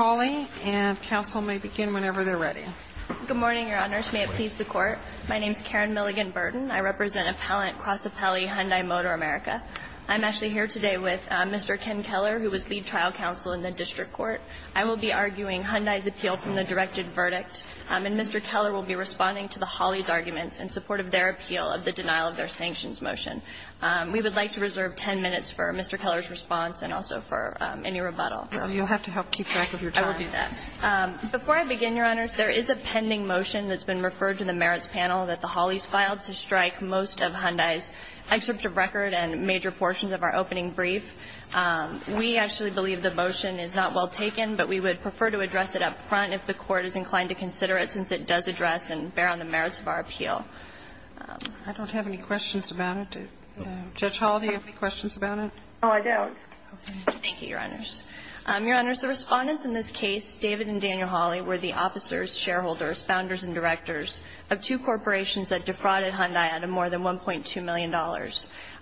and counsel may begin whenever they're ready. Good morning, your honors. May it please the court. My name is Karen Milligan Burton. I represent appellant cross appellee Hyundai Motor America. I'm actually here today with Mr Ken Keller, who was lead trial counsel in the district court. I will be arguing Hyundai's appeal from the directed verdict. Um, and Mr Keller will be responding to the Holly's arguments in support of their appeal of the denial of their sanctions motion. Um, we would like to reserve 10 minutes for Mr Keller's response and also for any rebuttal. You'll have to help keep track of that. Thank you very much. Thank you. I will do that. Um, before I begin, your honors, there is a pending motion that's been referred to the merits panel that the Holly's filed to strike most of Hyundai's excerpt of record and major portions of our opening brief. Um, we actually believe the motion is not well taken, but we would prefer to address it up front if the court is inclined to consider it since it does address and bear on the merits of our appeal. I don't have any questions about it. Judge Hall, do you have any questions about it? Oh, I don't. Thank you, your honors. Um, your honors, the respondents in the case, David and Daniel Holly were the officers, shareholders, founders and directors of two corporations that defrauded Hyundai out of more than $1.2 million.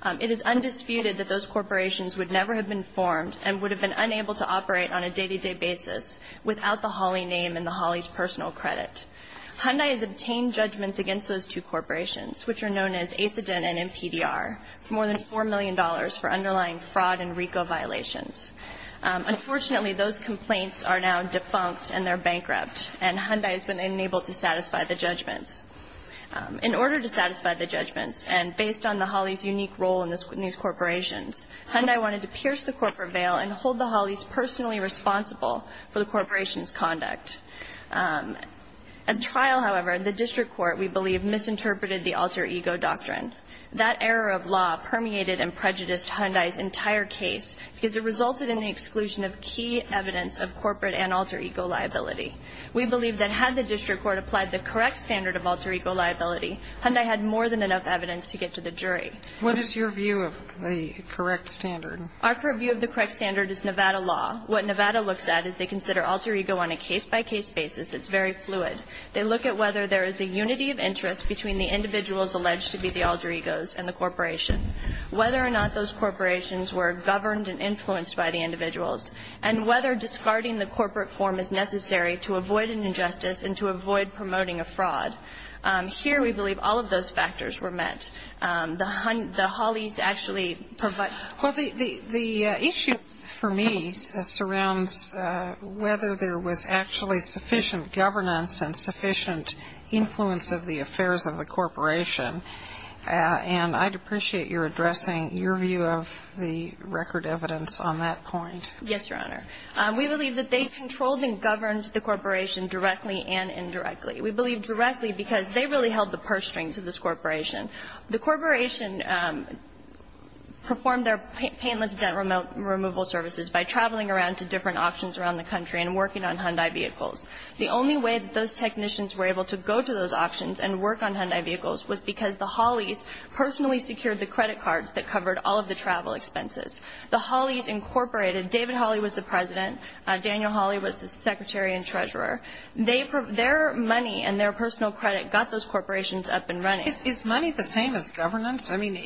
Um, it is undisputed that those corporations would never have been formed and would have been unable to operate on a day-to-day basis without the Holly name and the Holly's personal credit. Hyundai has obtained judgments against those two corporations, which are known as ACIDENT and MPDR, for more than $4 million for underlying fraud and RICO violations. Um, unfortunately, those complaints are now defunct and they're bankrupt and Hyundai has been unable to satisfy the judgments. Um, in order to satisfy the judgments and based on the Holly's unique role in these corporations, Hyundai wanted to pierce the corporate veil and hold the Holly's personally responsible for the corporation's conduct. Um, at trial, however, the district court, we believe, misinterpreted the alter ego doctrine. That error of law permeated and prejudiced Hyundai's entire case because it resulted in the exclusion of key evidence of corporate and alter ego liability. We believe that had the district court applied the correct standard of alter ego liability, Hyundai had more than enough evidence to get to the jury. What is your view of the correct standard? Our view of the correct standard is Nevada law. What Nevada looks at is they consider alter ego on a case-by-case basis. It's very fluid. They look at whether there is a unity of interest between the individuals alleged to be the alter egos and the corporation, whether or not those are the same individuals. And then they look at the corporate form and the corporate form is necessary to avoid an injustice and to avoid promoting a fraud. Here we believe all of those factors were met. The Holly's actually provide... Well, the issue for me surrounds whether there was actually sufficient governance and sufficient influence of the affairs of the corporation. And I'd appreciate your addressing your view of the record evidence on that point. Yes, Your Honor. We believe that they controlled and governed the corporation directly and indirectly. We believe directly because they really held the purse strings of this corporation. The corporation performed their painless dent removal services by traveling around to different auctions around the country and working on Hyundai vehicles. The only way that those technicians were able to go to those auctions and work on Hyundai vehicles was because the Holly's personally secured the credit cards that covered all of the travel expenses. The Holly's incorporated... David Holly was the president. The Holly's incorporated Daniel Holly was the secretary and treasurer. Their money and their personal credit got those corporations up and running. Is money the same as governance? I mean,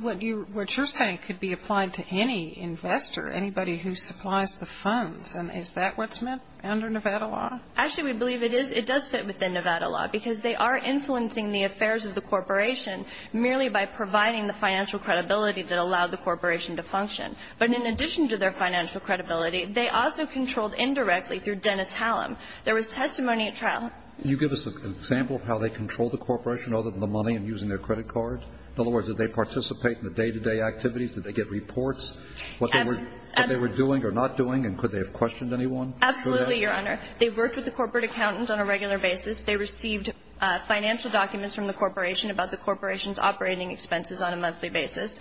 what you're saying could be applied to any investor, anybody who supplies the funds. And is that what's met under Nevada law? Actually, we believe it is. It does fit within Nevada law, because they are influencing the affairs of the corporation merely by providing the financial credibility that allowed the corporation to function. But in addition to their financial credibility, they also contributed to the financial credibility of the corporation. They were controlled indirectly through Dennis Hallam. There was testimony at trial. Can you give us an example of how they controlled the corporation other than the money and using their credit card? In other words, did they participate in the day-to-day activities? Did they get reports? What they were doing or not doing? And could they have questioned anyone? Absolutely, Your Honor. They worked with the corporate accountants on a regular basis. They received financial documents from the corporation about the corporation's operating expenses on a monthly basis.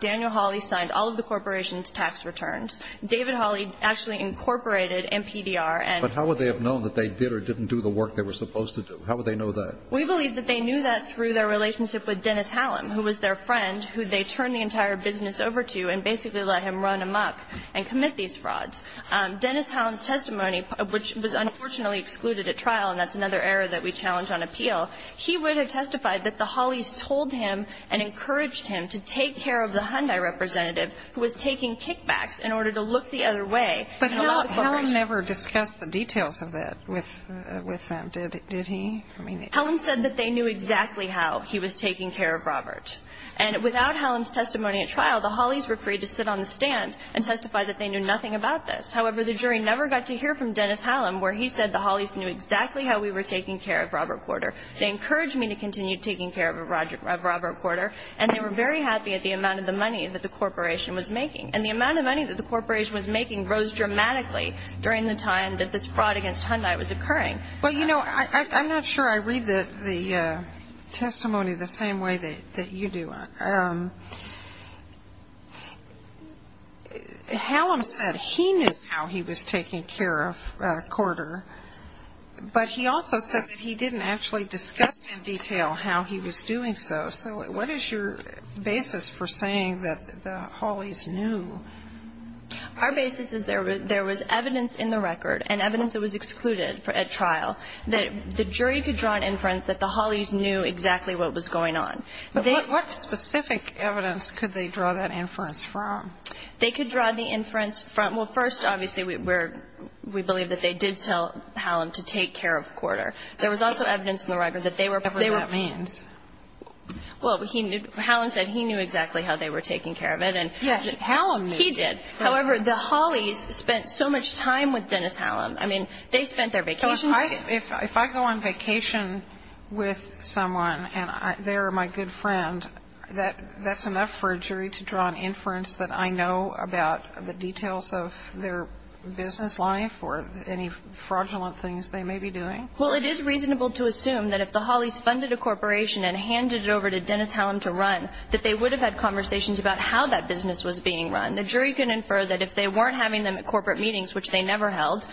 Daniel Holly signed all of the corporation's tax returns. David Holly actually incorporated MPDR and... But how would they have known that they did or didn't do the work they were supposed to do? How would they know that? We believe that they knew that through their relationship with Dennis Hallam, who was their friend, who they turned the entire business over to and basically let him run amok and commit these frauds. Dennis Hallam's testimony, which was unfortunately excluded at trial, and that's another error that we challenge on appeal, he would have testified that the Hollys told him and encouraged him to take care of the Hyundai representative who was taking kickbacks in order to look the other way. But Hallam never discussed the details of that with them, did he? Hallam said that they knew exactly how he was taking care of Robert. And without Hallam's testimony at trial, the Hollys were free to sit on the stand and testify that they knew nothing about this. However, the jury never got to hear from Dennis Hallam, where he said the Hollys knew exactly how we were taking care of Robert Porter. They encouraged me to continue taking care of Robert Porter, and they were very happy at the amount of the money that the corporation was making. And the amount of money that the corporation was making rose dramatically during the time that this fraud against Hyundai was occurring. Well, you know, I'm not sure I read the testimony the same way that you do. Hallam said he knew how he was taking care of Porter, but he also said that he didn't actually discuss in detail how he was doing so. So what is your basis for saying that the Hollys knew? Our basis is there was evidence in the record and evidence that was excluded at trial that the jury could draw an inference that the Hollys knew exactly what was going on. But what specific evidence could they draw that inference from? They could draw the inference from, well, first, obviously, we believe that they did tell Hallam to take care of Porter. There was also evidence in the record that they were... Whatever that means. Well, Hallam said he knew exactly how they were taking care of it. Yes, Hallam knew. Well, do I know about the details of their business life or any fraudulent things they may be doing? Well, it is reasonable to assume that if the Hollys funded a corporation and handed it over to Dennis Hallam to run, that they would have had conversations about how that business was being run. The jury could infer that if they weren't having them at corporate meetings, which they never held,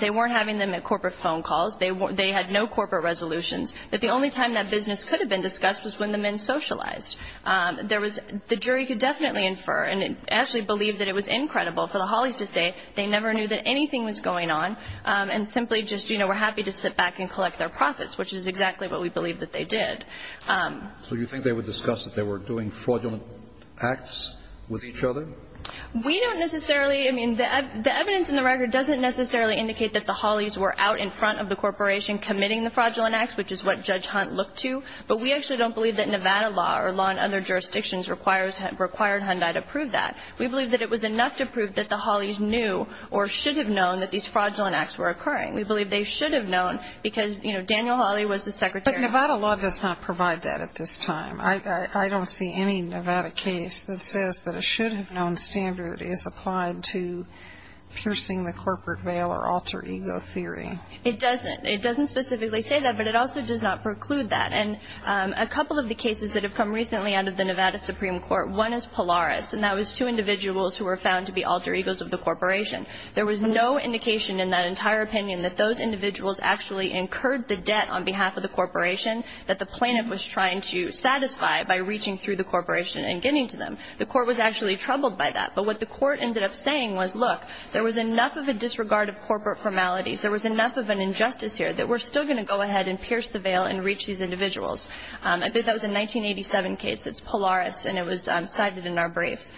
they weren't having them at corporate phone calls, they had no corporate resolutions, that the only time that business could have been discussed was when the men socialized. The jury could definitely infer and actually believe that it was incredible for the Hollys to say they never knew that anything was going on and simply just were happy to sit back and collect their profits, which is exactly what we believe that they did. So you think they would discuss that they were doing fraudulent acts with each other? We don't necessarily... I mean, the evidence in the record doesn't necessarily indicate that the Hollys were out in front of the corporation committing the fraudulent acts, which is what Judge Hunt looked to, but we actually don't believe that Nevada law or law in other jurisdictions required Hunt to prove that. We believe that it was enough to prove that the Hollys knew or should have known that these fraudulent acts were occurring. We believe they should have known because, you know, Daniel Holly was the secretary... But Nevada law does not provide that at this time. I don't see any Nevada case that says that a should-have-known standard is applied to fraudulent acts. I can't specifically say that, but it also does not preclude that. And a couple of the cases that have come recently out of the Nevada Supreme Court, one is Polaris, and that was two individuals who were found to be alter egos of the corporation. There was no indication in that entire opinion that those individuals actually incurred the debt on behalf of the corporation that the plaintiff was trying to satisfy by reaching through the corporation and getting to them. The court was actually troubled by that, but what the court ended up saying was, look, there was enough of a disregard of corporate formalities, we're still going to go ahead and pierce the veil and reach these individuals. I think that was a 1987 case. It's Polaris, and it was cited in our briefs.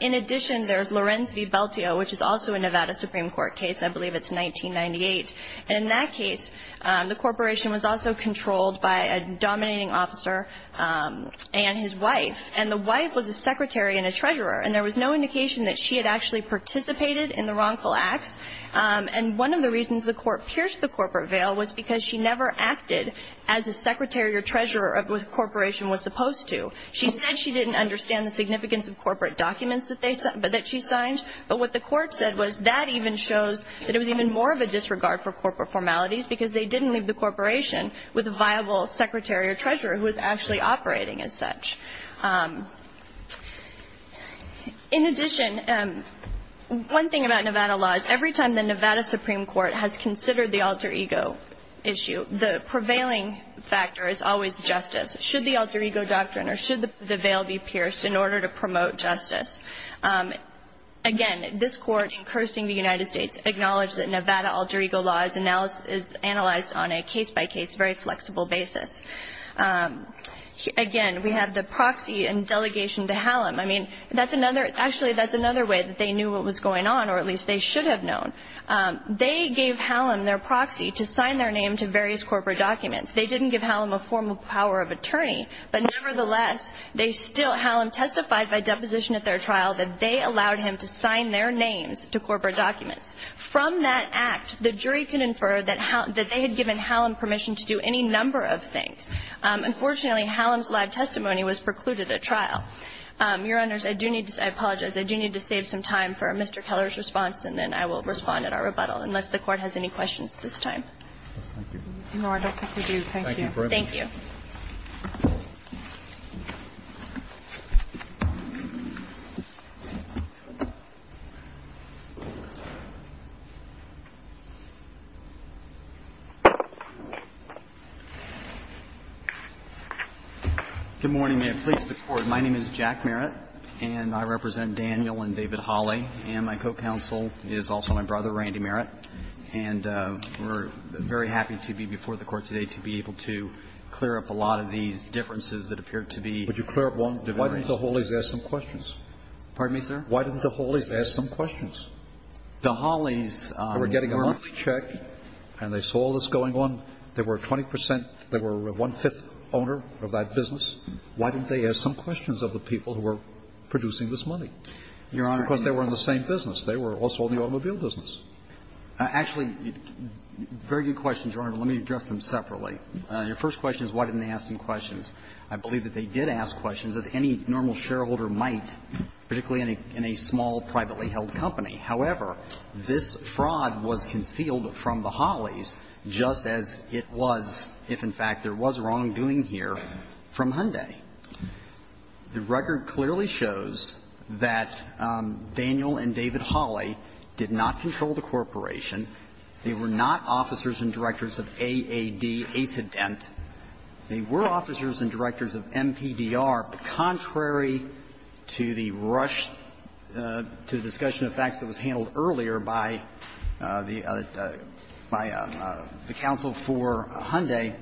In addition, there's Lorenz v. Belteo, which is also a Nevada Supreme Court case. I believe it's 1998. And in that case, the corporation was also controlled by a dominating officer and his wife. And the wife was a secretary and a treasurer, and there was no indication that she had actually participated in the wrongful acts. And one of the reasons the court pierced the corporate veil was because she was a secretary and a treasurer, because she never acted as a secretary or treasurer of what the corporation was supposed to. She said she didn't understand the significance of corporate documents that she signed, but what the court said was that even shows that it was even more of a disregard for corporate formalities, because they didn't leave the corporation with a viable secretary or treasurer who was actually operating as such. In addition, one thing about Nevada law is every time the Nevada Supreme Court has considered the alter ego issue, there's always a question of justice. Should the alter ego doctrine or should the veil be pierced in order to promote justice? Again, this court, encouraging the United States, acknowledged that Nevada alter ego law is analyzed on a case-by-case, very flexible basis. Again, we have the proxy and delegation to Hallam. I mean, that's another way that they knew what was going on, or at least they should have known. They gave Hallam their proxy to sign their name to various corporate documents. They didn't give Hallam a formal power of attorney, but nevertheless, they still, Hallam testified by deposition at their trial that they allowed him to sign their names to corporate documents. From that act, the jury can infer that they had given Hallam permission to do any number of things. Unfortunately, Hallam's live testimony was precluded at trial. Your Honors, I do need to say, I apologize, I do need to save some time for Mr. Keller's response, and then I will respond at our conversation at this time. Thank you. Good morning. May I please the court. My name is Jack Merritt, and I represent Daniel and David Holley, and my co-counsel is also my brother, Randy Merritt. And we're very happy to be before the court today to be able to clear up a lot of these differences that appear to be. Would you clear up one difference? Why didn't the Holleys ask some questions? Pardon me, sir? Why didn't the Holleys ask some questions? The Holleys were. They were getting a monthly check, and they saw all this going on. They were 20 percent. They were one-fifth owner of that business. Why didn't they ask some questions of the people who were producing this money? Your Honor. Because they were in the same business. They were also in the automobile business. Actually, very good question, Your Honor. Let me address them separately. Your first question is why didn't they ask some questions. I believe that they did ask questions, as any normal shareholder might, particularly in a small, privately held company. However, this fraud was concealed from the Holleys just as it was if, in fact, there was wrongdoing here from Hyundai. The record clearly shows that Daniel and David Holley did not control the corporation. They were not officers and directors of AAD, ACIDENT. They were officers and directors of MPDR, but contrary to the rush to the discussion of facts that was handled earlier by the counsel for Hyundai,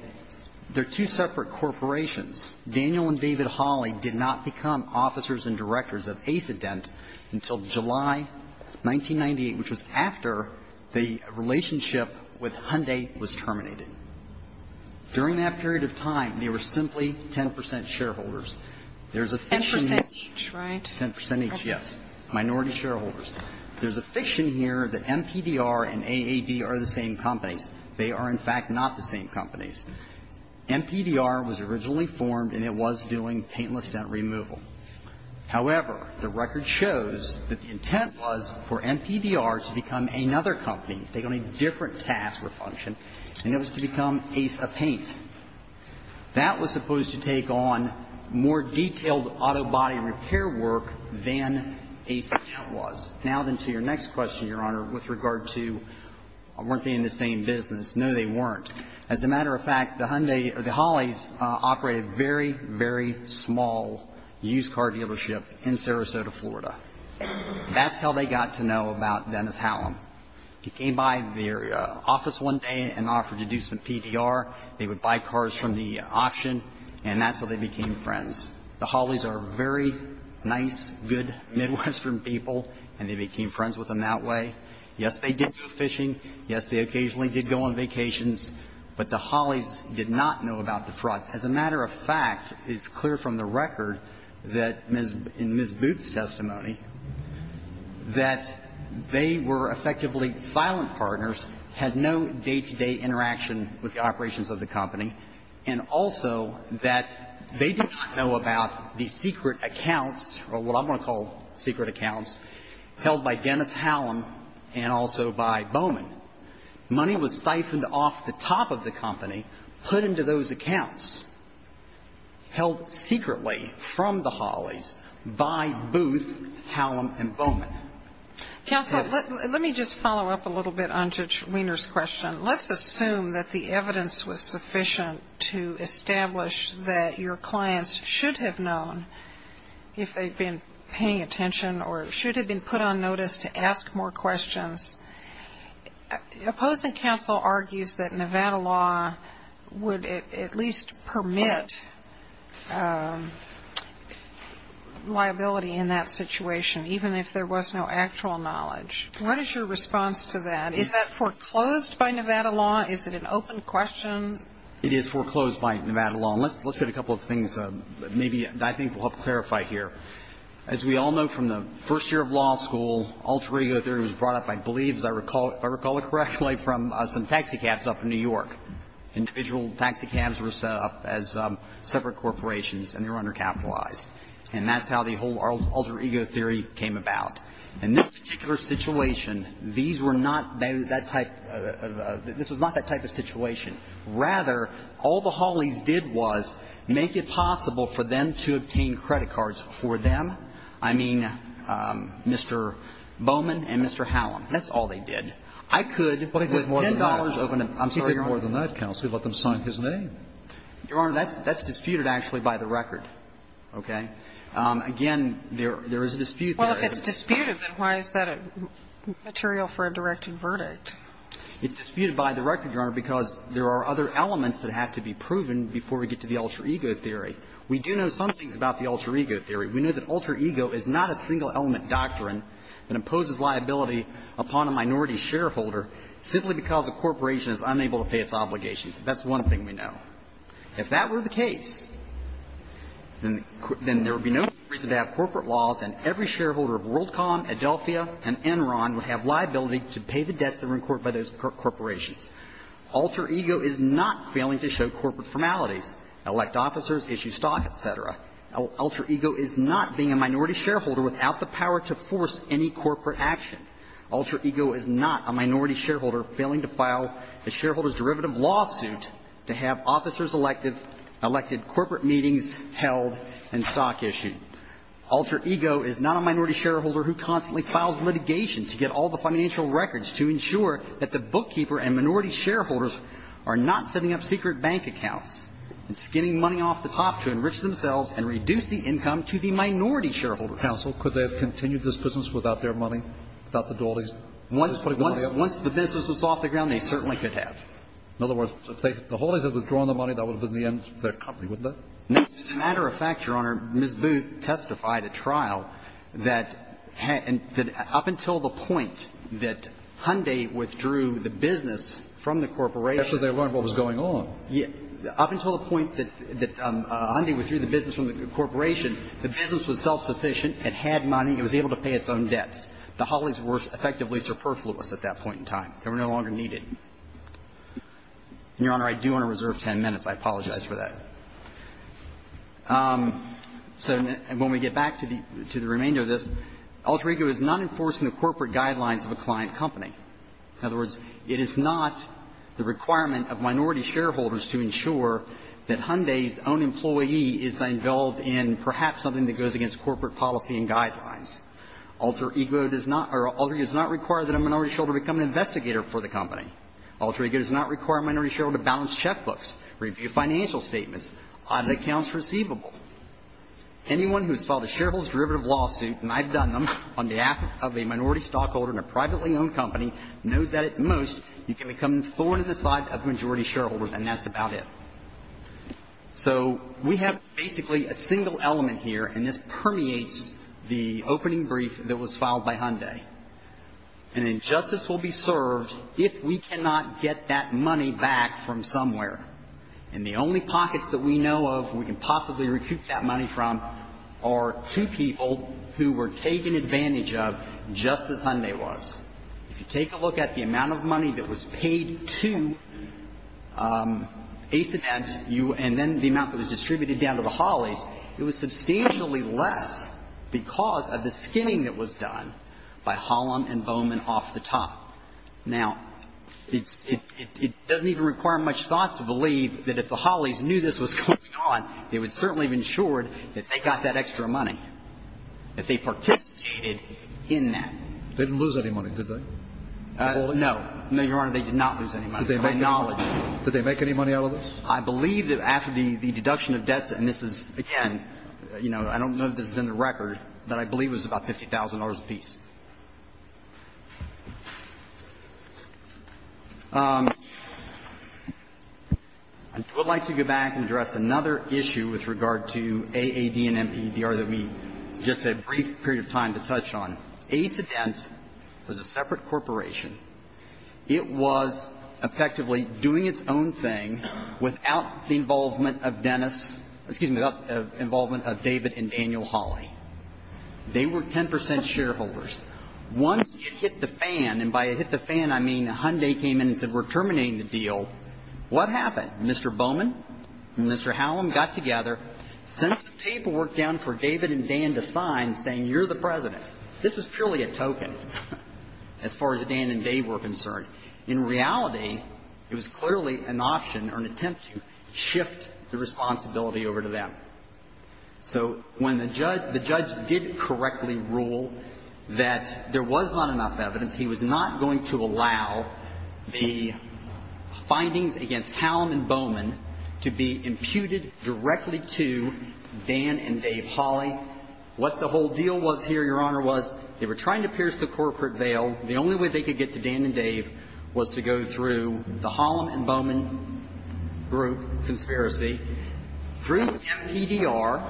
they're two separate corporations. Daniel and David Holley did not become officers and directors of ACIDENT until July 1998, which was after the relationship with Hyundai was terminated. During that period of time, they were simply 10 percent shareholders. There's a fiction here. Ten percent each, right? Ten percent each, yes. Minority shareholders. There's a fiction here that MPDR and AAD are the same companies. They are, in fact, not the same companies. MPDR was originally formed, and it was doing paintless dent removal. However, the record shows that the intent was for MPDR to become another company, take on a different task or function, and it was to become Ace of Paint. That was supposed to take on more detailed auto body repair work than Ace of Paint was. Now then to your next question, Your Honor, with regard to weren't they in the same business? No, they weren't. As a matter of fact, the Holleys operated a very, very small used car dealership in Sarasota, Florida. That's how they got to know about Dennis Hallam. He came by their office one day and offered to do some PDR. They would buy cars from the auction, and that's how they became friends. The Holleys are very nice, good, Midwestern people, and they became friends with him that way. Yes, they did go fishing. Yes, they occasionally did go on vacations. But the Holleys did not know about the fraud. As a matter of fact, it's clear from the record that Ms. Booth's testimony that they were effectively silent partners, had no day-to-day interaction with the operations of the company, and also that they did not know about the secret money that was siphoned off the top of the company, put into those accounts, held secretly from the Holleys by Booth, Hallam, and Bowman. Counsel, let me just follow up a little bit on Judge Wiener's question. Let's assume that the evidence was sufficient to establish that your clients should have known if they'd been paying attention or should have been put on notice to ask more questions. Opposing counsel argues that Nevada law would at least permit liability in that situation, even if there was no actual knowledge. What is your response to that? Is that foreclosed by Nevada law? Is it an open question? It is foreclosed by Nevada law. Let's get a couple of things that maybe I think will help clarify here. As we all know from the first year of law school, alter ego theory was brought up, I believe, if I recall it correctly, from some taxicabs up in New York. Individual taxicabs were set up as separate corporations and they were undercapitalized. And that's how the whole alter ego theory came about. In this particular situation, these were not that type of – this was not that type of situation. Rather, all the Holleys did was make it possible for them to obtain credit cards for them. I mean, Mr. Bowman and Mr. Hallam. That's all they did. I could, with $10 of an – I'm sorry, Your Honor. But if it was more than that, counsel, you'd let them sign his name. Your Honor, that's disputed, actually, by the record. Okay? Again, there is a dispute there. Well, if it's disputed, then why is that a material for a directed verdict? It's disputed by the record, Your Honor, because there are other elements that have to be proven before we get to the alter ego theory. We do know some things about the alter ego theory. We know that alter ego is not a single element doctrine that imposes liability upon a minority shareholder simply because a corporation is unable to pay its obligations. That's one thing we know. If that were the case, then there would be no reason to have corporate laws and every shareholder of WorldCom, Adelphia and Enron would have liability to pay the debts incurred by those corporations. Alter ego is not failing to show corporate formalities. Elect officers, issue stock, et cetera. Alter ego is not being a minority shareholder without the power to force any corporate action. Alter ego is not a minority shareholder failing to file a shareholder's derivative lawsuit to have officers elected, elected corporate meetings held and stock issued. Alter ego is not a minority shareholder who constantly files litigation to get all the financial records to ensure that the bookkeeper and minority shareholders are not setting up secret bank accounts and skinning money off the top to enrich themselves and reduce the income to the minority shareholder. Counsel, could they have continued this business without their money, without the Dawleys? Once the business was off the ground, they certainly could have. In other words, if the Hawleys had withdrawn the money, that would have been the end of their company, wouldn't it? As a matter of fact, Your Honor, Ms. Booth testified at trial that up until the point that Hyundai withdrew the business from the corporation. That's when they learned what was going on. Up until the point that Hyundai withdrew the business from the corporation, the business was self-sufficient. It had money. It was able to pay its own debts. The Hawleys were effectively superfluous at that point in time. They were no longer needed. And, Your Honor, I do want to reserve 10 minutes. I apologize for that. So when we get back to the remainder of this, alter ego is not enforcing the corporate guidelines of a client company. In other words, it is not the requirement of minority shareholders to ensure that Hyundai's own employee is involved in perhaps something that goes against corporate policy and guidelines. Alter ego does not or alter ego does not require that a minority shareholder become an investigator for the company. Alter ego does not require a minority shareholder to balance checkbooks, review financial statements, audit accounts receivable. Anyone who has filed a shareholder's derivative lawsuit, and I've done them on behalf of a minority stockholder in a privately owned company, knows that, at most, you can become thorn in the side of majority shareholders, and that's about it. So we have basically a single element here, and this permeates the opening brief that was filed by Hyundai. An injustice will be served if we cannot get that money back from somewhere. And the only pockets that we know of we can possibly recoup that money from are two people who were taken advantage of just as Hyundai was. If you take a look at the amount of money that was paid to Acent and then the amount that was distributed down to the Holleys, it was substantially less because of the skinning that was done by Hollum and Bowman off the top. Now, it doesn't even require much thought to believe that if the Holleys knew this was going on, they would certainly have ensured that they got that extra money, that they participated in that. They didn't lose any money, did they? No. No, Your Honor, they did not lose any money. I acknowledge that. Did they make any money out of this? I believe that after the deduction of debts, and this is, again, you know, I don't know if this is in the record, but I believe it was about $50,000 apiece. I would like to go back and address another issue with regard to AAD and MPEDR that we just had a brief period of time to touch on. Acedent was a separate corporation. It was effectively doing its own thing without the involvement of Dennis — excuse me, without the involvement of David and Daniel Holley. They were 10 percent shareholders. Once it hit the fan, and by it hit the fan, I mean Hyundai came in and said we're terminating the deal, what happened? Mr. Bowman and Mr. Hallam got together, sent some paperwork down for David and Dan to sign saying you're the President. This was purely a token as far as Dan and Dave were concerned. In reality, it was clearly an option or an attempt to shift the responsibility over to them. So when the judge did correctly rule that there was not enough evidence, he was not going to allow the findings against Hallam and Bowman to be imputed directly to Dan and Dave Holley. What the whole deal was here, Your Honor, was they were trying to pierce the corporate veil. The only way they could get to Dan and Dave was to go through the Hallam and Bowman group, conspiracy, through MPDR,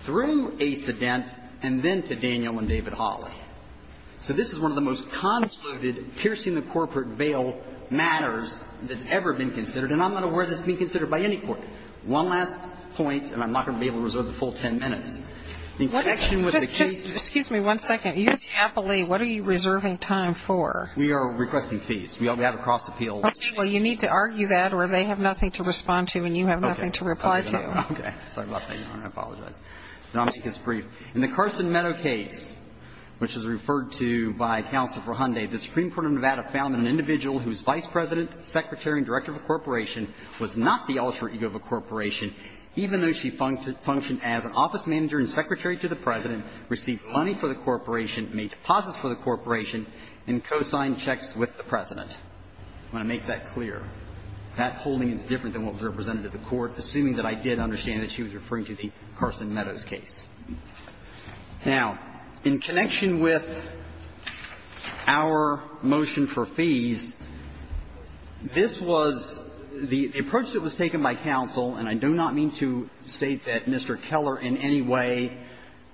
through a sedent, and then to Daniel and David Holley. So this is one of the most concluded piercing the corporate veil matters that's ever been considered, and I'm not aware this being considered by any court. One last point, and I'm not going to be able to reserve the full 10 minutes. In connection with the case of ---- Just excuse me one second. You're chaplain. What are you reserving time for? We are requesting fees. We have a cross-appeal. Okay. Well, you need to argue that or they have nothing to respond to and you have nothing to reply to. Okay. Sorry about that, Your Honor. I apologize. I'll make this brief. In the Carson Meadow case, which is referred to by Counsel for Hyundai, the Supreme Court of Nevada found an individual whose vice president, secretary, and director of a corporation was not the alter ego of a corporation, even though she functioned as an office manager and secretary to the President, received money for the corporation, made deposits for the corporation, and co-signed checks with the President. I want to make that clear. That holding is different than what was represented at the court, assuming that I did understand that she was referring to the Carson Meadows case. Now, in connection with our motion for fees, this was the approach that was taken by counsel, and I do not mean to state that Mr. Keller in any way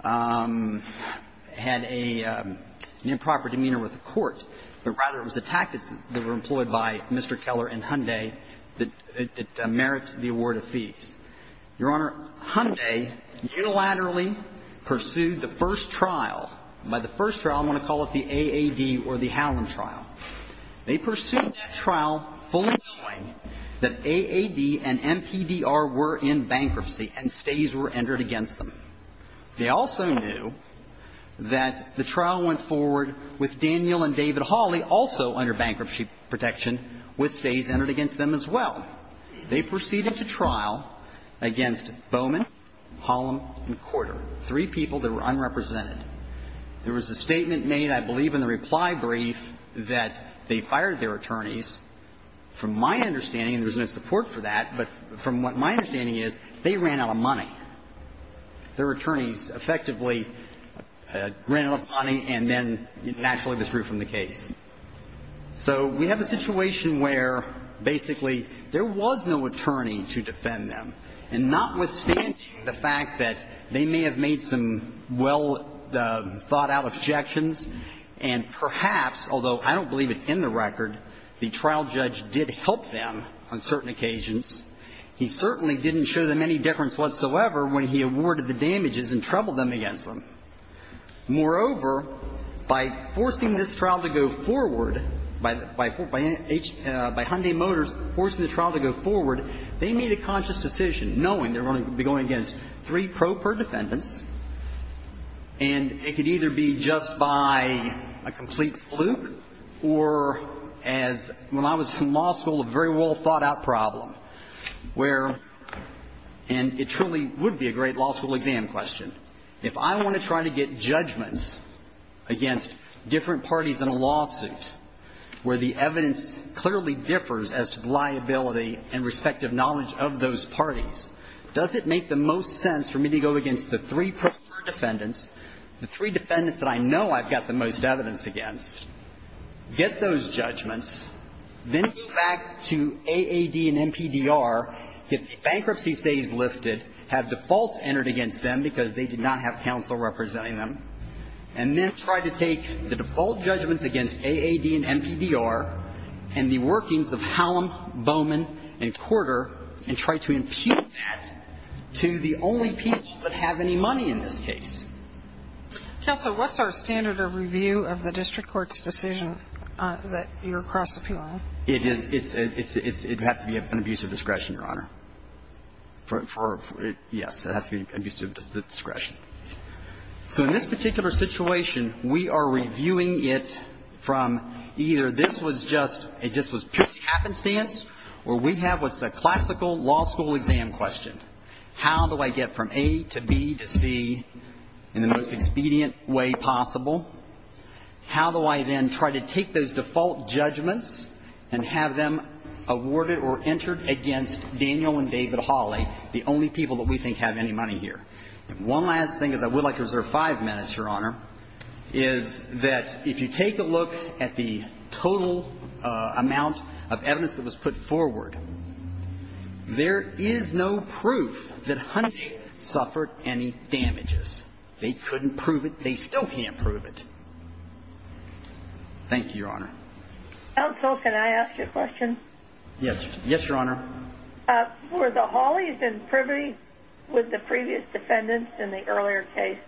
had an improper demeanor with the court, but rather it was a tactic that was employed by Mr. Keller and Hyundai that merits the award of fees. Your Honor, Hyundai unilaterally pursued the first trial. By the first trial, I'm going to call it the AAD or the Howland trial. They pursued that trial fully knowing that AAD and MPDR were in bankruptcy and stays were entered against them. They also knew that the trial went forward with Daniel and David Hawley also under bankruptcy protection with stays entered against them as well. They proceeded to trial against Bowman, Hollom, and Corder, three people that were unrepresented. There was a statement made, I believe, in the reply brief that they fired their attorneys. From my understanding, and there was no support for that, but from what my understanding is, they ran out of money. Their attorneys effectively ran out of money and then naturally withdrew from the case. So we have a situation where basically there was no attorney to defend them, and not withstanding the fact that they may have made some well-thought-out objections and perhaps, although I don't believe it's in the record, the trial judge did help them on certain occasions. He certainly didn't show them any deference whatsoever when he awarded the damages and troubled them against them. Moreover, by forcing this trial to go forward, by Hyundai Motors forcing the trial to go forward, they made a conscious decision, knowing they were going to be going against three pro per defendants, and it could either be just by a complete fluke or as, when I was in law school, a very well-thought-out problem where, and it truly would be a great law school exam question. If I want to try to get judgments against different parties in a lawsuit where the evidence clearly differs as to the liability and respective knowledge of those parties, does it make the most sense for me to go against the three pro per defendants, the three defendants that I know I've got the most evidence against, get those judgments, then go back to AAD and MPDR, get the bankruptcy stays lifted, have defaults entered against them because they did not have counsel representing them, and then try to take the default judgments against AAD and MPDR and the workings of Hallam, Bowman and Porter, and try to impute that to the only people that have any money in this case? Counsel, what's our standard of review of the district court's decision that you're cross-appealing? It is, it's, it has to be an abuse of discretion, Your Honor. For, yes, it has to be an abuse of discretion. So in this particular situation, we are reviewing it from either this was just, it just was pure happenstance, or we have what's a classical law school exam question. How do I get from A to B to C in the most expedient way possible? How do I then try to take those default judgments and have them awarded or entered against Daniel and David Hawley, the only people that we think have any money here? One last thing, as I would like to reserve five minutes, Your Honor, is that if you take a look at the total amount of evidence that was put forward, there is no proof that Hunch suffered any damages. They couldn't prove it. They still can't prove it. Thank you, Your Honor. Counsel, can I ask you a question? Yes. Yes, Your Honor. Were the Hawleys in privity with the previous defendants in the earlier case?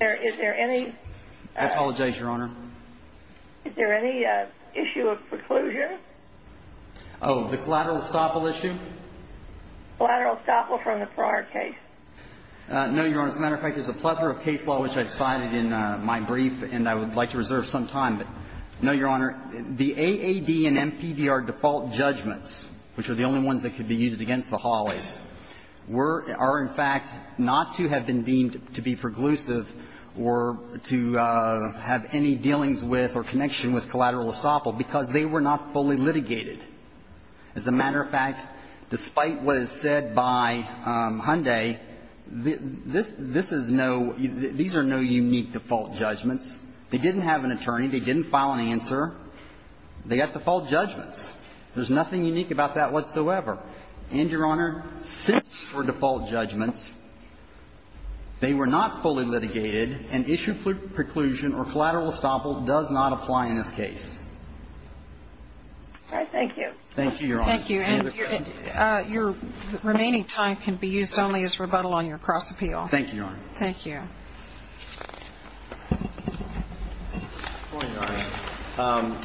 Is there any... I apologize, Your Honor. Is there any issue of preclusion? Oh, the collateral estoppel issue? Collateral estoppel from the prior case. No, Your Honor. As a matter of fact, there's a plethora of case law which I've cited in my brief, and I would like to reserve some time, but no, Your Honor. The AAD and MPDR default judgments, which are the only ones that could be used against the Hawleys, were or are in fact not to have been deemed to be preclusive or to have any dealings with or connection with collateral estoppel because they were not fully litigated. As a matter of fact, despite what is said by Hyundai, this is no – these are no unique default judgments. They didn't have an attorney. They didn't file an answer. They got default judgments. There's nothing unique about that whatsoever. And, Your Honor, since for default judgments, they were not fully litigated, an issue preclusion or collateral estoppel does not apply in this case. All right. Thank you. Thank you, Your Honor. Thank you. Thank you, Your Honor. Thank you. Point nine.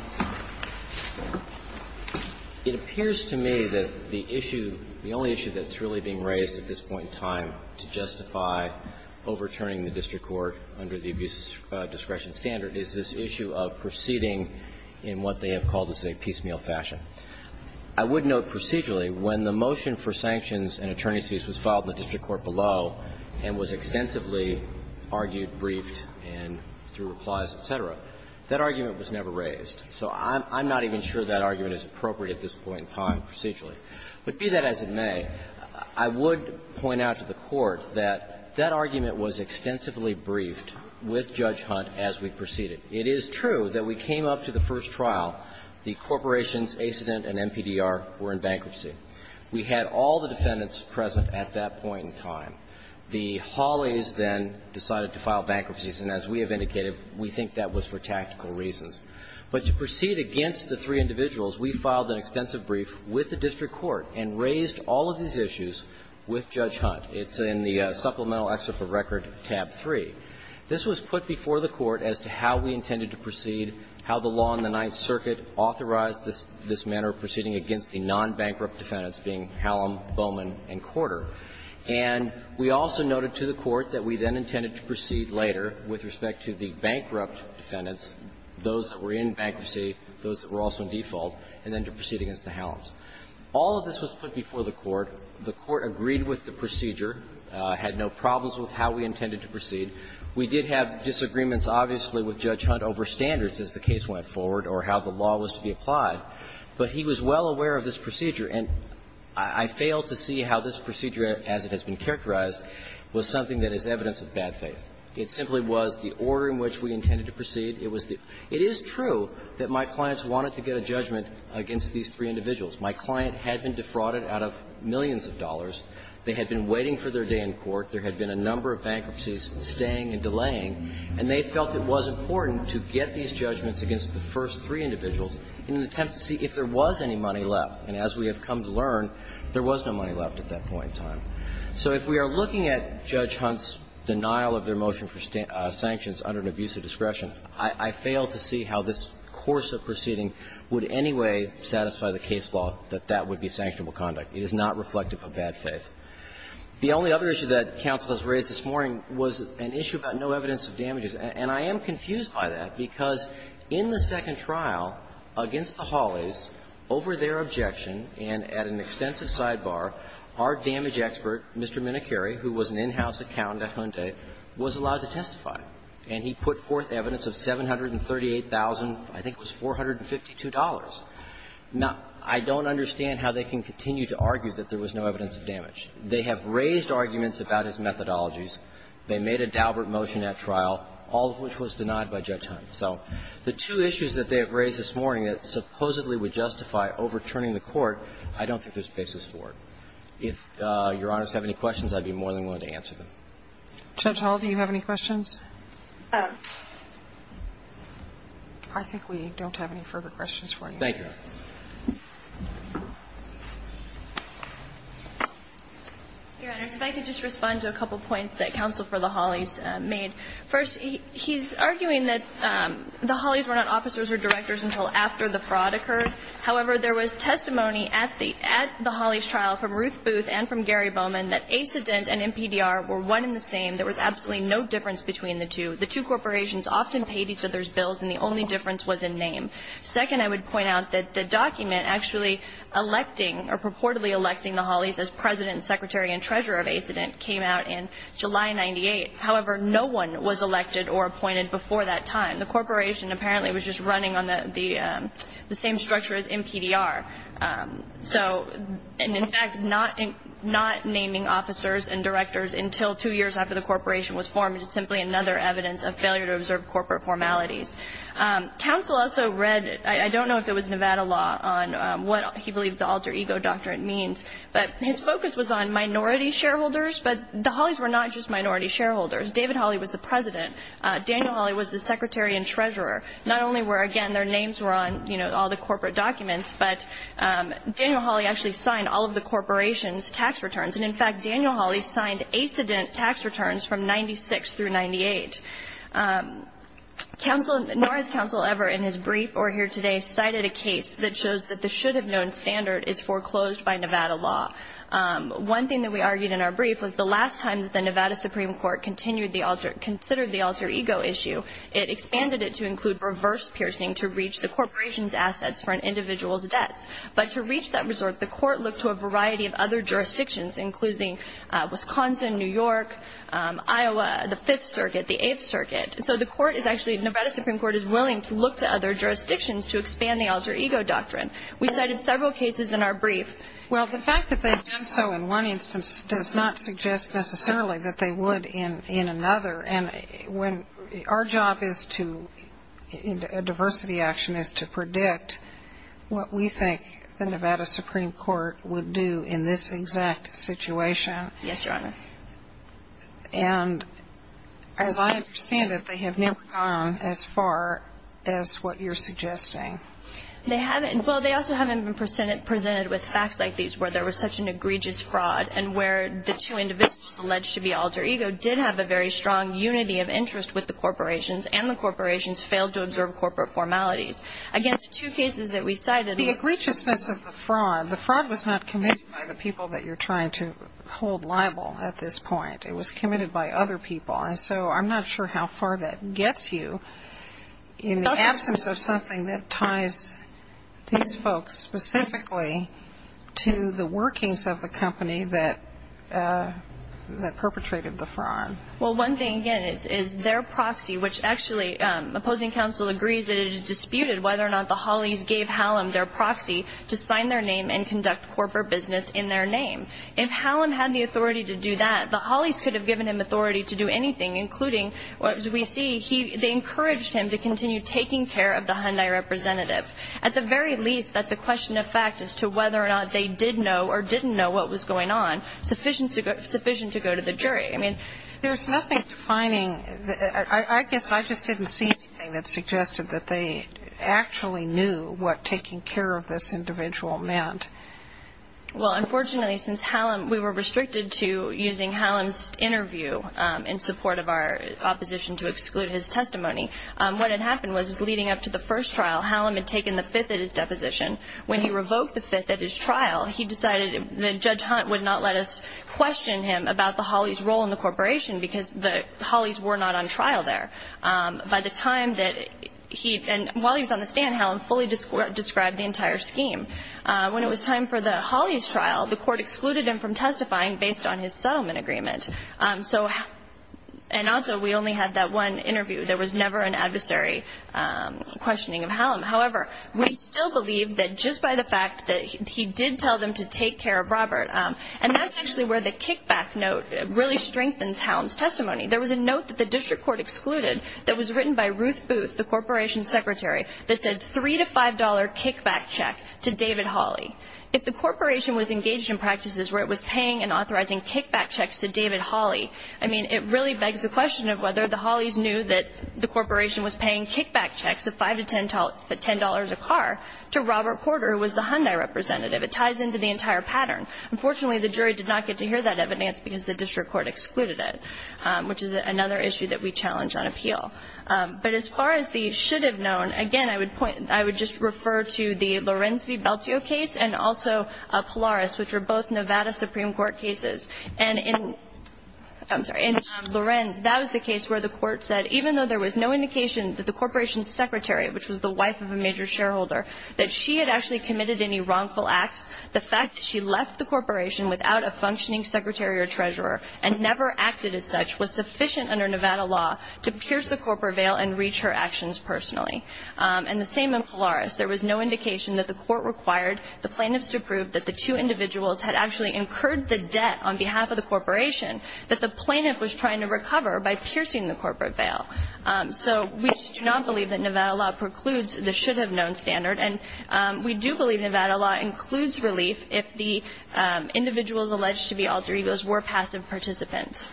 It appears to me that the issue, the only issue that's really being raised at this point in time to justify overturning the district court under the abuse discretion standard is this issue of proceeding in what they have called as a piecemeal fashion. I would note procedurally when the motion for sanctions and attorney's fees was filed in the district court below and was extensively argued, briefed, and through replies, et cetera, that argument was never raised. So I'm not even sure that argument is appropriate at this point in time procedurally. But be that as it may, I would point out to the Court that that argument was extensively briefed with Judge Hunt as we proceeded. It is true that we came up to the first The Hawleys then decided to file bankruptcies, and as we have indicated, we think that was for tactical reasons. But to proceed against the three individuals, we filed an extensive brief with the district court and raised all of these issues with Judge Hunt. It's in the Supplemental Excerpt of Record, tab 3. This was put before the Court as to how we intended to proceed, how the law in the Ninth Circuit authorized this manner of proceeding against the nonbankrupt defendants, being Hallam, Bowman, and Corder. And we also noted to the Court that we then intended to proceed later with respect to the bankrupt defendants, those that were in bankruptcy, those that were also in default, and then to proceed against the Hallams. All of this was put before the Court. The Court agreed with the procedure, had no problems with how we intended to proceed. We did have disagreements, obviously, with Judge Hunt over standards as the case went forward or how the law was to be applied, but he was well aware of this procedure. And I fail to see how this procedure, as it has been characterized, was something that is evidence of bad faith. It simply was the order in which we intended to proceed. It was the – it is true that my clients wanted to get a judgment against these three individuals. My client had been defrauded out of millions of dollars. They had been waiting for their day in court. There had been a number of bankruptcies staying and delaying, and they felt it was important to get these judgments against the first three individuals in an attempt to see if there was any money left. And as we have come to learn, there was no money left at that point in time. So if we are looking at Judge Hunt's denial of their motion for sanctions under an abuse of discretion, I fail to see how this course of proceeding would in any way satisfy the case law that that would be sanctionable conduct. It is not reflective of bad faith. The only other issue that counsel has raised this morning was an issue about no evidence of damages. And I am confused by that, because in the second trial, against the Holleys, over their objection and at an extensive sidebar, our damage expert, Mr. Minicari, who was an in-house accountant at Hyundai, was allowed to testify. And he put forth evidence of $738,000, I think it was $452. Now, I don't understand how they can continue to argue that there was no evidence of damage. They have raised arguments about his methodologies. They made a Daubert motion at trial, all of which was denied by Judge Hunt. So the two issues that they have raised this morning that supposedly would justify overturning the Court, I don't think there's basis for it. If Your Honors have any questions, I'd be more than willing to answer them. Judge Hall, do you have any questions? I think we don't have any further questions for you. Thank you, Your Honor. Your Honors, if I could just respond to a couple points that Counsel for the Holleys made. First, he's arguing that the Holleys were not officers or directors until after the fraud occurred. However, there was testimony at the Holleys' trial from Ruth Booth and from Gary Bowman that ACIDENT and NPDR were one and the same. There was absolutely no difference between the two. The two corporations often paid each other's bills, and the only difference was in name. Second, I would point out that the document actually electing or purportedly electing the Holleys as President, Secretary, and Treasurer of ACIDENT came out in July of 1998. However, no one was elected or appointed before that time. The corporation apparently was just running on the same structure as NPDR. So, and in fact, not naming officers and directors until two years after the corporation was formed is simply another evidence of failure to observe corporate formalities. Counsel also read, I don't know if it was Nevada law on what he believes the alter ego doctrine means, but his focus was on minority shareholders. But the Holleys were not just minority shareholders. David Holley was the President. Daniel Holley was the Secretary and Treasurer. Not only were, again, their names were on, you know, all the corporate documents, but Daniel Holley actually signed all of the corporation's tax returns. And in fact, Daniel Holley signed ACIDENT tax returns from 96 through 98. Nor has Counsel ever in his brief or here today cited a case that shows that the should have known standard is foreclosed by Nevada law. One thing that we argued in our brief was the last time that the Nevada Supreme Court considered the alter ego issue, it expanded it to include reverse piercing to reach the corporation's assets for an individual's debts. But to reach that resort, the court looked to a variety of other jurisdictions, including Wisconsin, New York, Iowa, the Fifth Circuit, the Eighth Circuit. So the court is actually, Nevada Supreme Court is willing to look to other jurisdictions to expand the alter ego doctrine. We cited several cases in our brief. Well, the fact that they've done so in one instance does not suggest necessarily that they would in another. And when our job is to, in diversity action, is to predict what we think the Yes, Your Honor. And as I understand it, they have never gone as far as what you're suggesting. They haven't. Well, they also haven't been presented with facts like these where there was such an egregious fraud and where the two individuals alleged to be alter ego did have a very strong unity of interest with the corporations and the corporations failed to observe corporate formalities. Again, the two cases that we cited. The egregiousness of the fraud, the fraud was not committed by the people that you're trying to hold liable at this point. It was committed by other people. And so I'm not sure how far that gets you in the absence of something that ties these folks specifically to the workings of the company that perpetrated the fraud. Well, one thing, again, is their proxy, which actually, opposing counsel agrees that it is disputed whether or not the Hollies gave Hallam their proxy to sign their name and conduct corporate business in their name. If Hallam had the authority to do that, the Hollies could have given him authority to do anything, including, as we see, they encouraged him to continue taking care of the Hyundai representative. At the very least, that's a question of fact as to whether or not they did know or didn't know what was going on sufficient to go to the jury. I mean, there's nothing defining. I guess I just didn't see anything that suggested that they actually knew what this individual meant. Well, unfortunately, since we were restricted to using Hallam's interview in support of our opposition to exclude his testimony, what had happened was, leading up to the first trial, Hallam had taken the fifth at his deposition. When he revoked the fifth at his trial, he decided that Judge Hunt would not let us question him about the Hollies' role in the corporation, because the Hollies were not on trial there. By the time that he, and while he was on the stand, Hallam fully described the entire scheme. When it was time for the Hollies' trial, the court excluded him from testifying based on his settlement agreement. So, and also, we only had that one interview. There was never an adversary questioning of Hallam. However, we still believe that just by the fact that he did tell them to take care of Robert, and that's actually where the kickback note really strengthens Hallam's testimony. There was a note that the district court excluded that was written by Ruth Booth, the corporation's secretary, that said, $3 to $5 kickback check to David Holley. If the corporation was engaged in practices where it was paying and authorizing kickback checks to David Holley, I mean, it really begs the question of whether the Hollies knew that the corporation was paying kickback checks of $5 to $10 a car to Robert Porter, who was the Hyundai representative. It ties into the entire pattern. Unfortunately, the jury did not get to hear that evidence because the district court excluded it, which is another issue that we challenge on appeal. But as far as the should have known, again, I would just refer to the Lorenz v. Belteo case and also Polaris, which are both Nevada Supreme Court cases. And in, I'm sorry, in Lorenz, that was the case where the court said, even though there was no indication that the corporation's secretary, which was the wife of a major shareholder, that she had actually committed any wrongful acts, the fact that she left the corporation without a functioning secretary or treasurer and never acted as such was sufficient under Nevada law to pierce the corporate veil and reach her actions personally. And the same in Polaris. There was no indication that the court required the plaintiffs to prove that the two individuals had actually incurred the debt on behalf of the corporation that the plaintiff was trying to recover by piercing the corporate veil. So we do not believe that Nevada law precludes the should have known standard. And we do believe Nevada law includes relief if the individuals alleged to be alter egos were passive participants.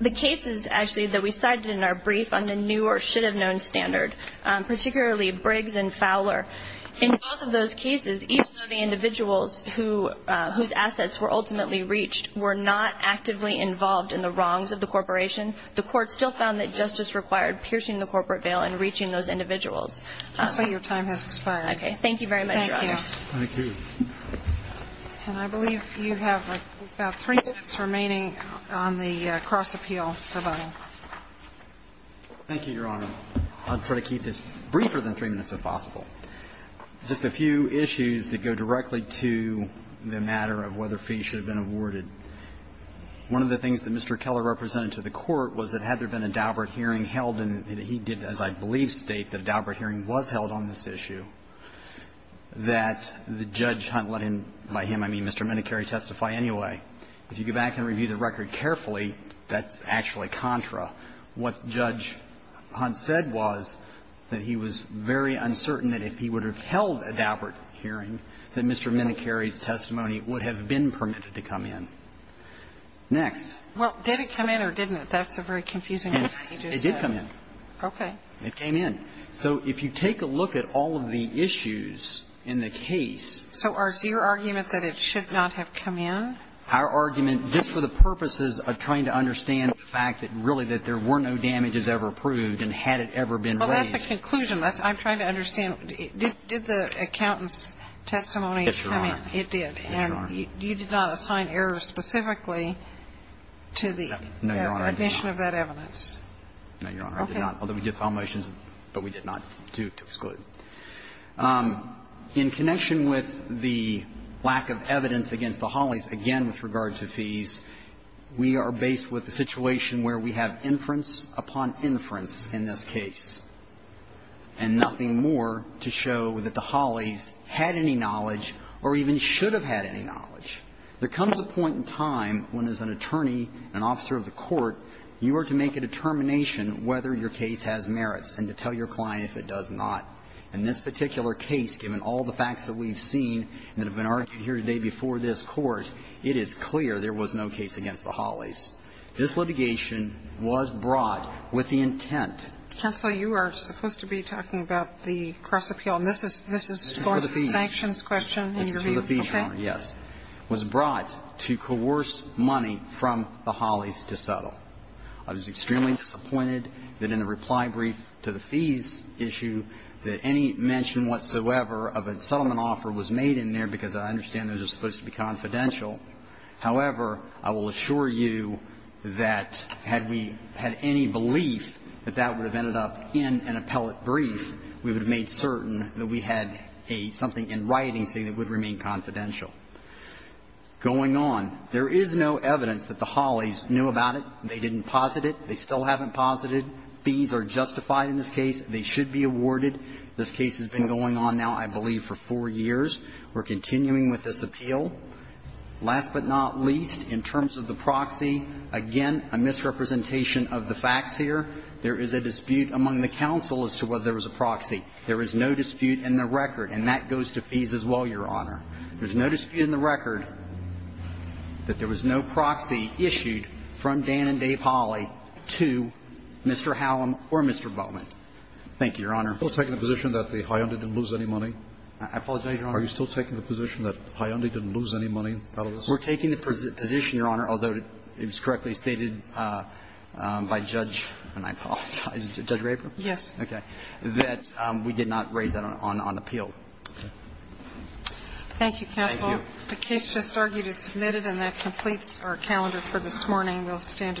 The cases, actually, that we cited in our brief on the new or should have known standard, particularly Briggs and Fowler, in both of those cases, even though the individuals whose assets were ultimately reached were not actively involved in the wrongs of the corporation, the court still found that justice required piercing the corporate veil and reaching those individuals. I'm sorry, your time has expired. Okay, thank you very much, Your Honor. Thank you. And I believe you have about three minutes remaining on the cross-appeal rebuttal. Thank you, Your Honor. I'll try to keep this briefer than three minutes, if possible. Just a few issues that go directly to the matter of whether fees should have been awarded. One of the things that Mr. Keller represented to the Court was that had there been a Daubert hearing held, and he did, as I believe, state that a Daubert hearing was held on this issue, that the judge, Hunt, let him by him, I mean, Mr. Minicari, testify anyway. If you go back and review the record carefully, that's actually contra. What Judge Hunt said was that he was very uncertain that if he would have held a Daubert hearing, that Mr. Minicari's testimony would have been permitted to come in. Next. Well, did it come in or didn't it? That's a very confusing question. It did come in. Okay. It came in. So if you take a look at all of the issues in the case. So is your argument that it should not have come in? Our argument, just for the purposes of trying to understand the fact that really that there were no damages ever approved, and had it ever been raised. Well, that's a conclusion. I'm trying to understand, did the accountant's testimony come in? Yes, Your Honor. It did, and you did not assign error specifically to the admission of that evidence? No, Your Honor, I did not. Although we did file motions, but we did not do it to exclude. In connection with the lack of evidence against the Holleys, again with regard to fees, we are based with the situation where we have inference upon inference in this case, and nothing more to show that the Holleys had any knowledge or even should have had any knowledge. There comes a point in time when, as an attorney, an officer of the court, you are to make a determination whether your case has merits and to tell your client if it does not. In this particular case, given all the facts that we've seen that have been argued here today before this Court, it is clear there was no case against the Holleys. This litigation was brought with the intent. Counsel, you are supposed to be talking about the cross-appeal, and this is for the sanctions question in your view. This is for the fees, Your Honor, yes. It was brought to coerce money from the Holleys to settle. I was extremely disappointed that in the reply brief to the fees issue that any mention whatsoever of a settlement offer was made in there because I understand those are supposed to be confidential. However, I will assure you that had we had any belief that that would have ended up in an appellate brief, we would have made certain that we had a – something in writing saying it would remain confidential. Going on, there is no evidence that the Holleys knew about it. They didn't posit it. They still haven't posited. Fees are justified in this case. They should be awarded. This case has been going on now, I believe, for four years. We're continuing with this appeal. Last but not least, in terms of the proxy, again, a misrepresentation of the facts here. There is a dispute among the counsel as to whether there was a proxy. There is no dispute in the record, and that goes to fees as well, Your Honor. There's no dispute in the record that there was no proxy issued from Dan and Dave Holley to Mr. Hallam or Mr. Bowman. Thank you, Your Honor. We're taking the position that the High End didn't lose any money? I apologize, Your Honor. Are you still taking the position that High End didn't lose any money out of this? We're taking the position, Your Honor, although it was correctly stated by Judge – and I apologize, Judge Raper? Yes. Okay. That we did not raise that on appeal. Thank you, counsel. The case just argued is submitted, and that completes our calendar for this morning. We'll stand adjourned.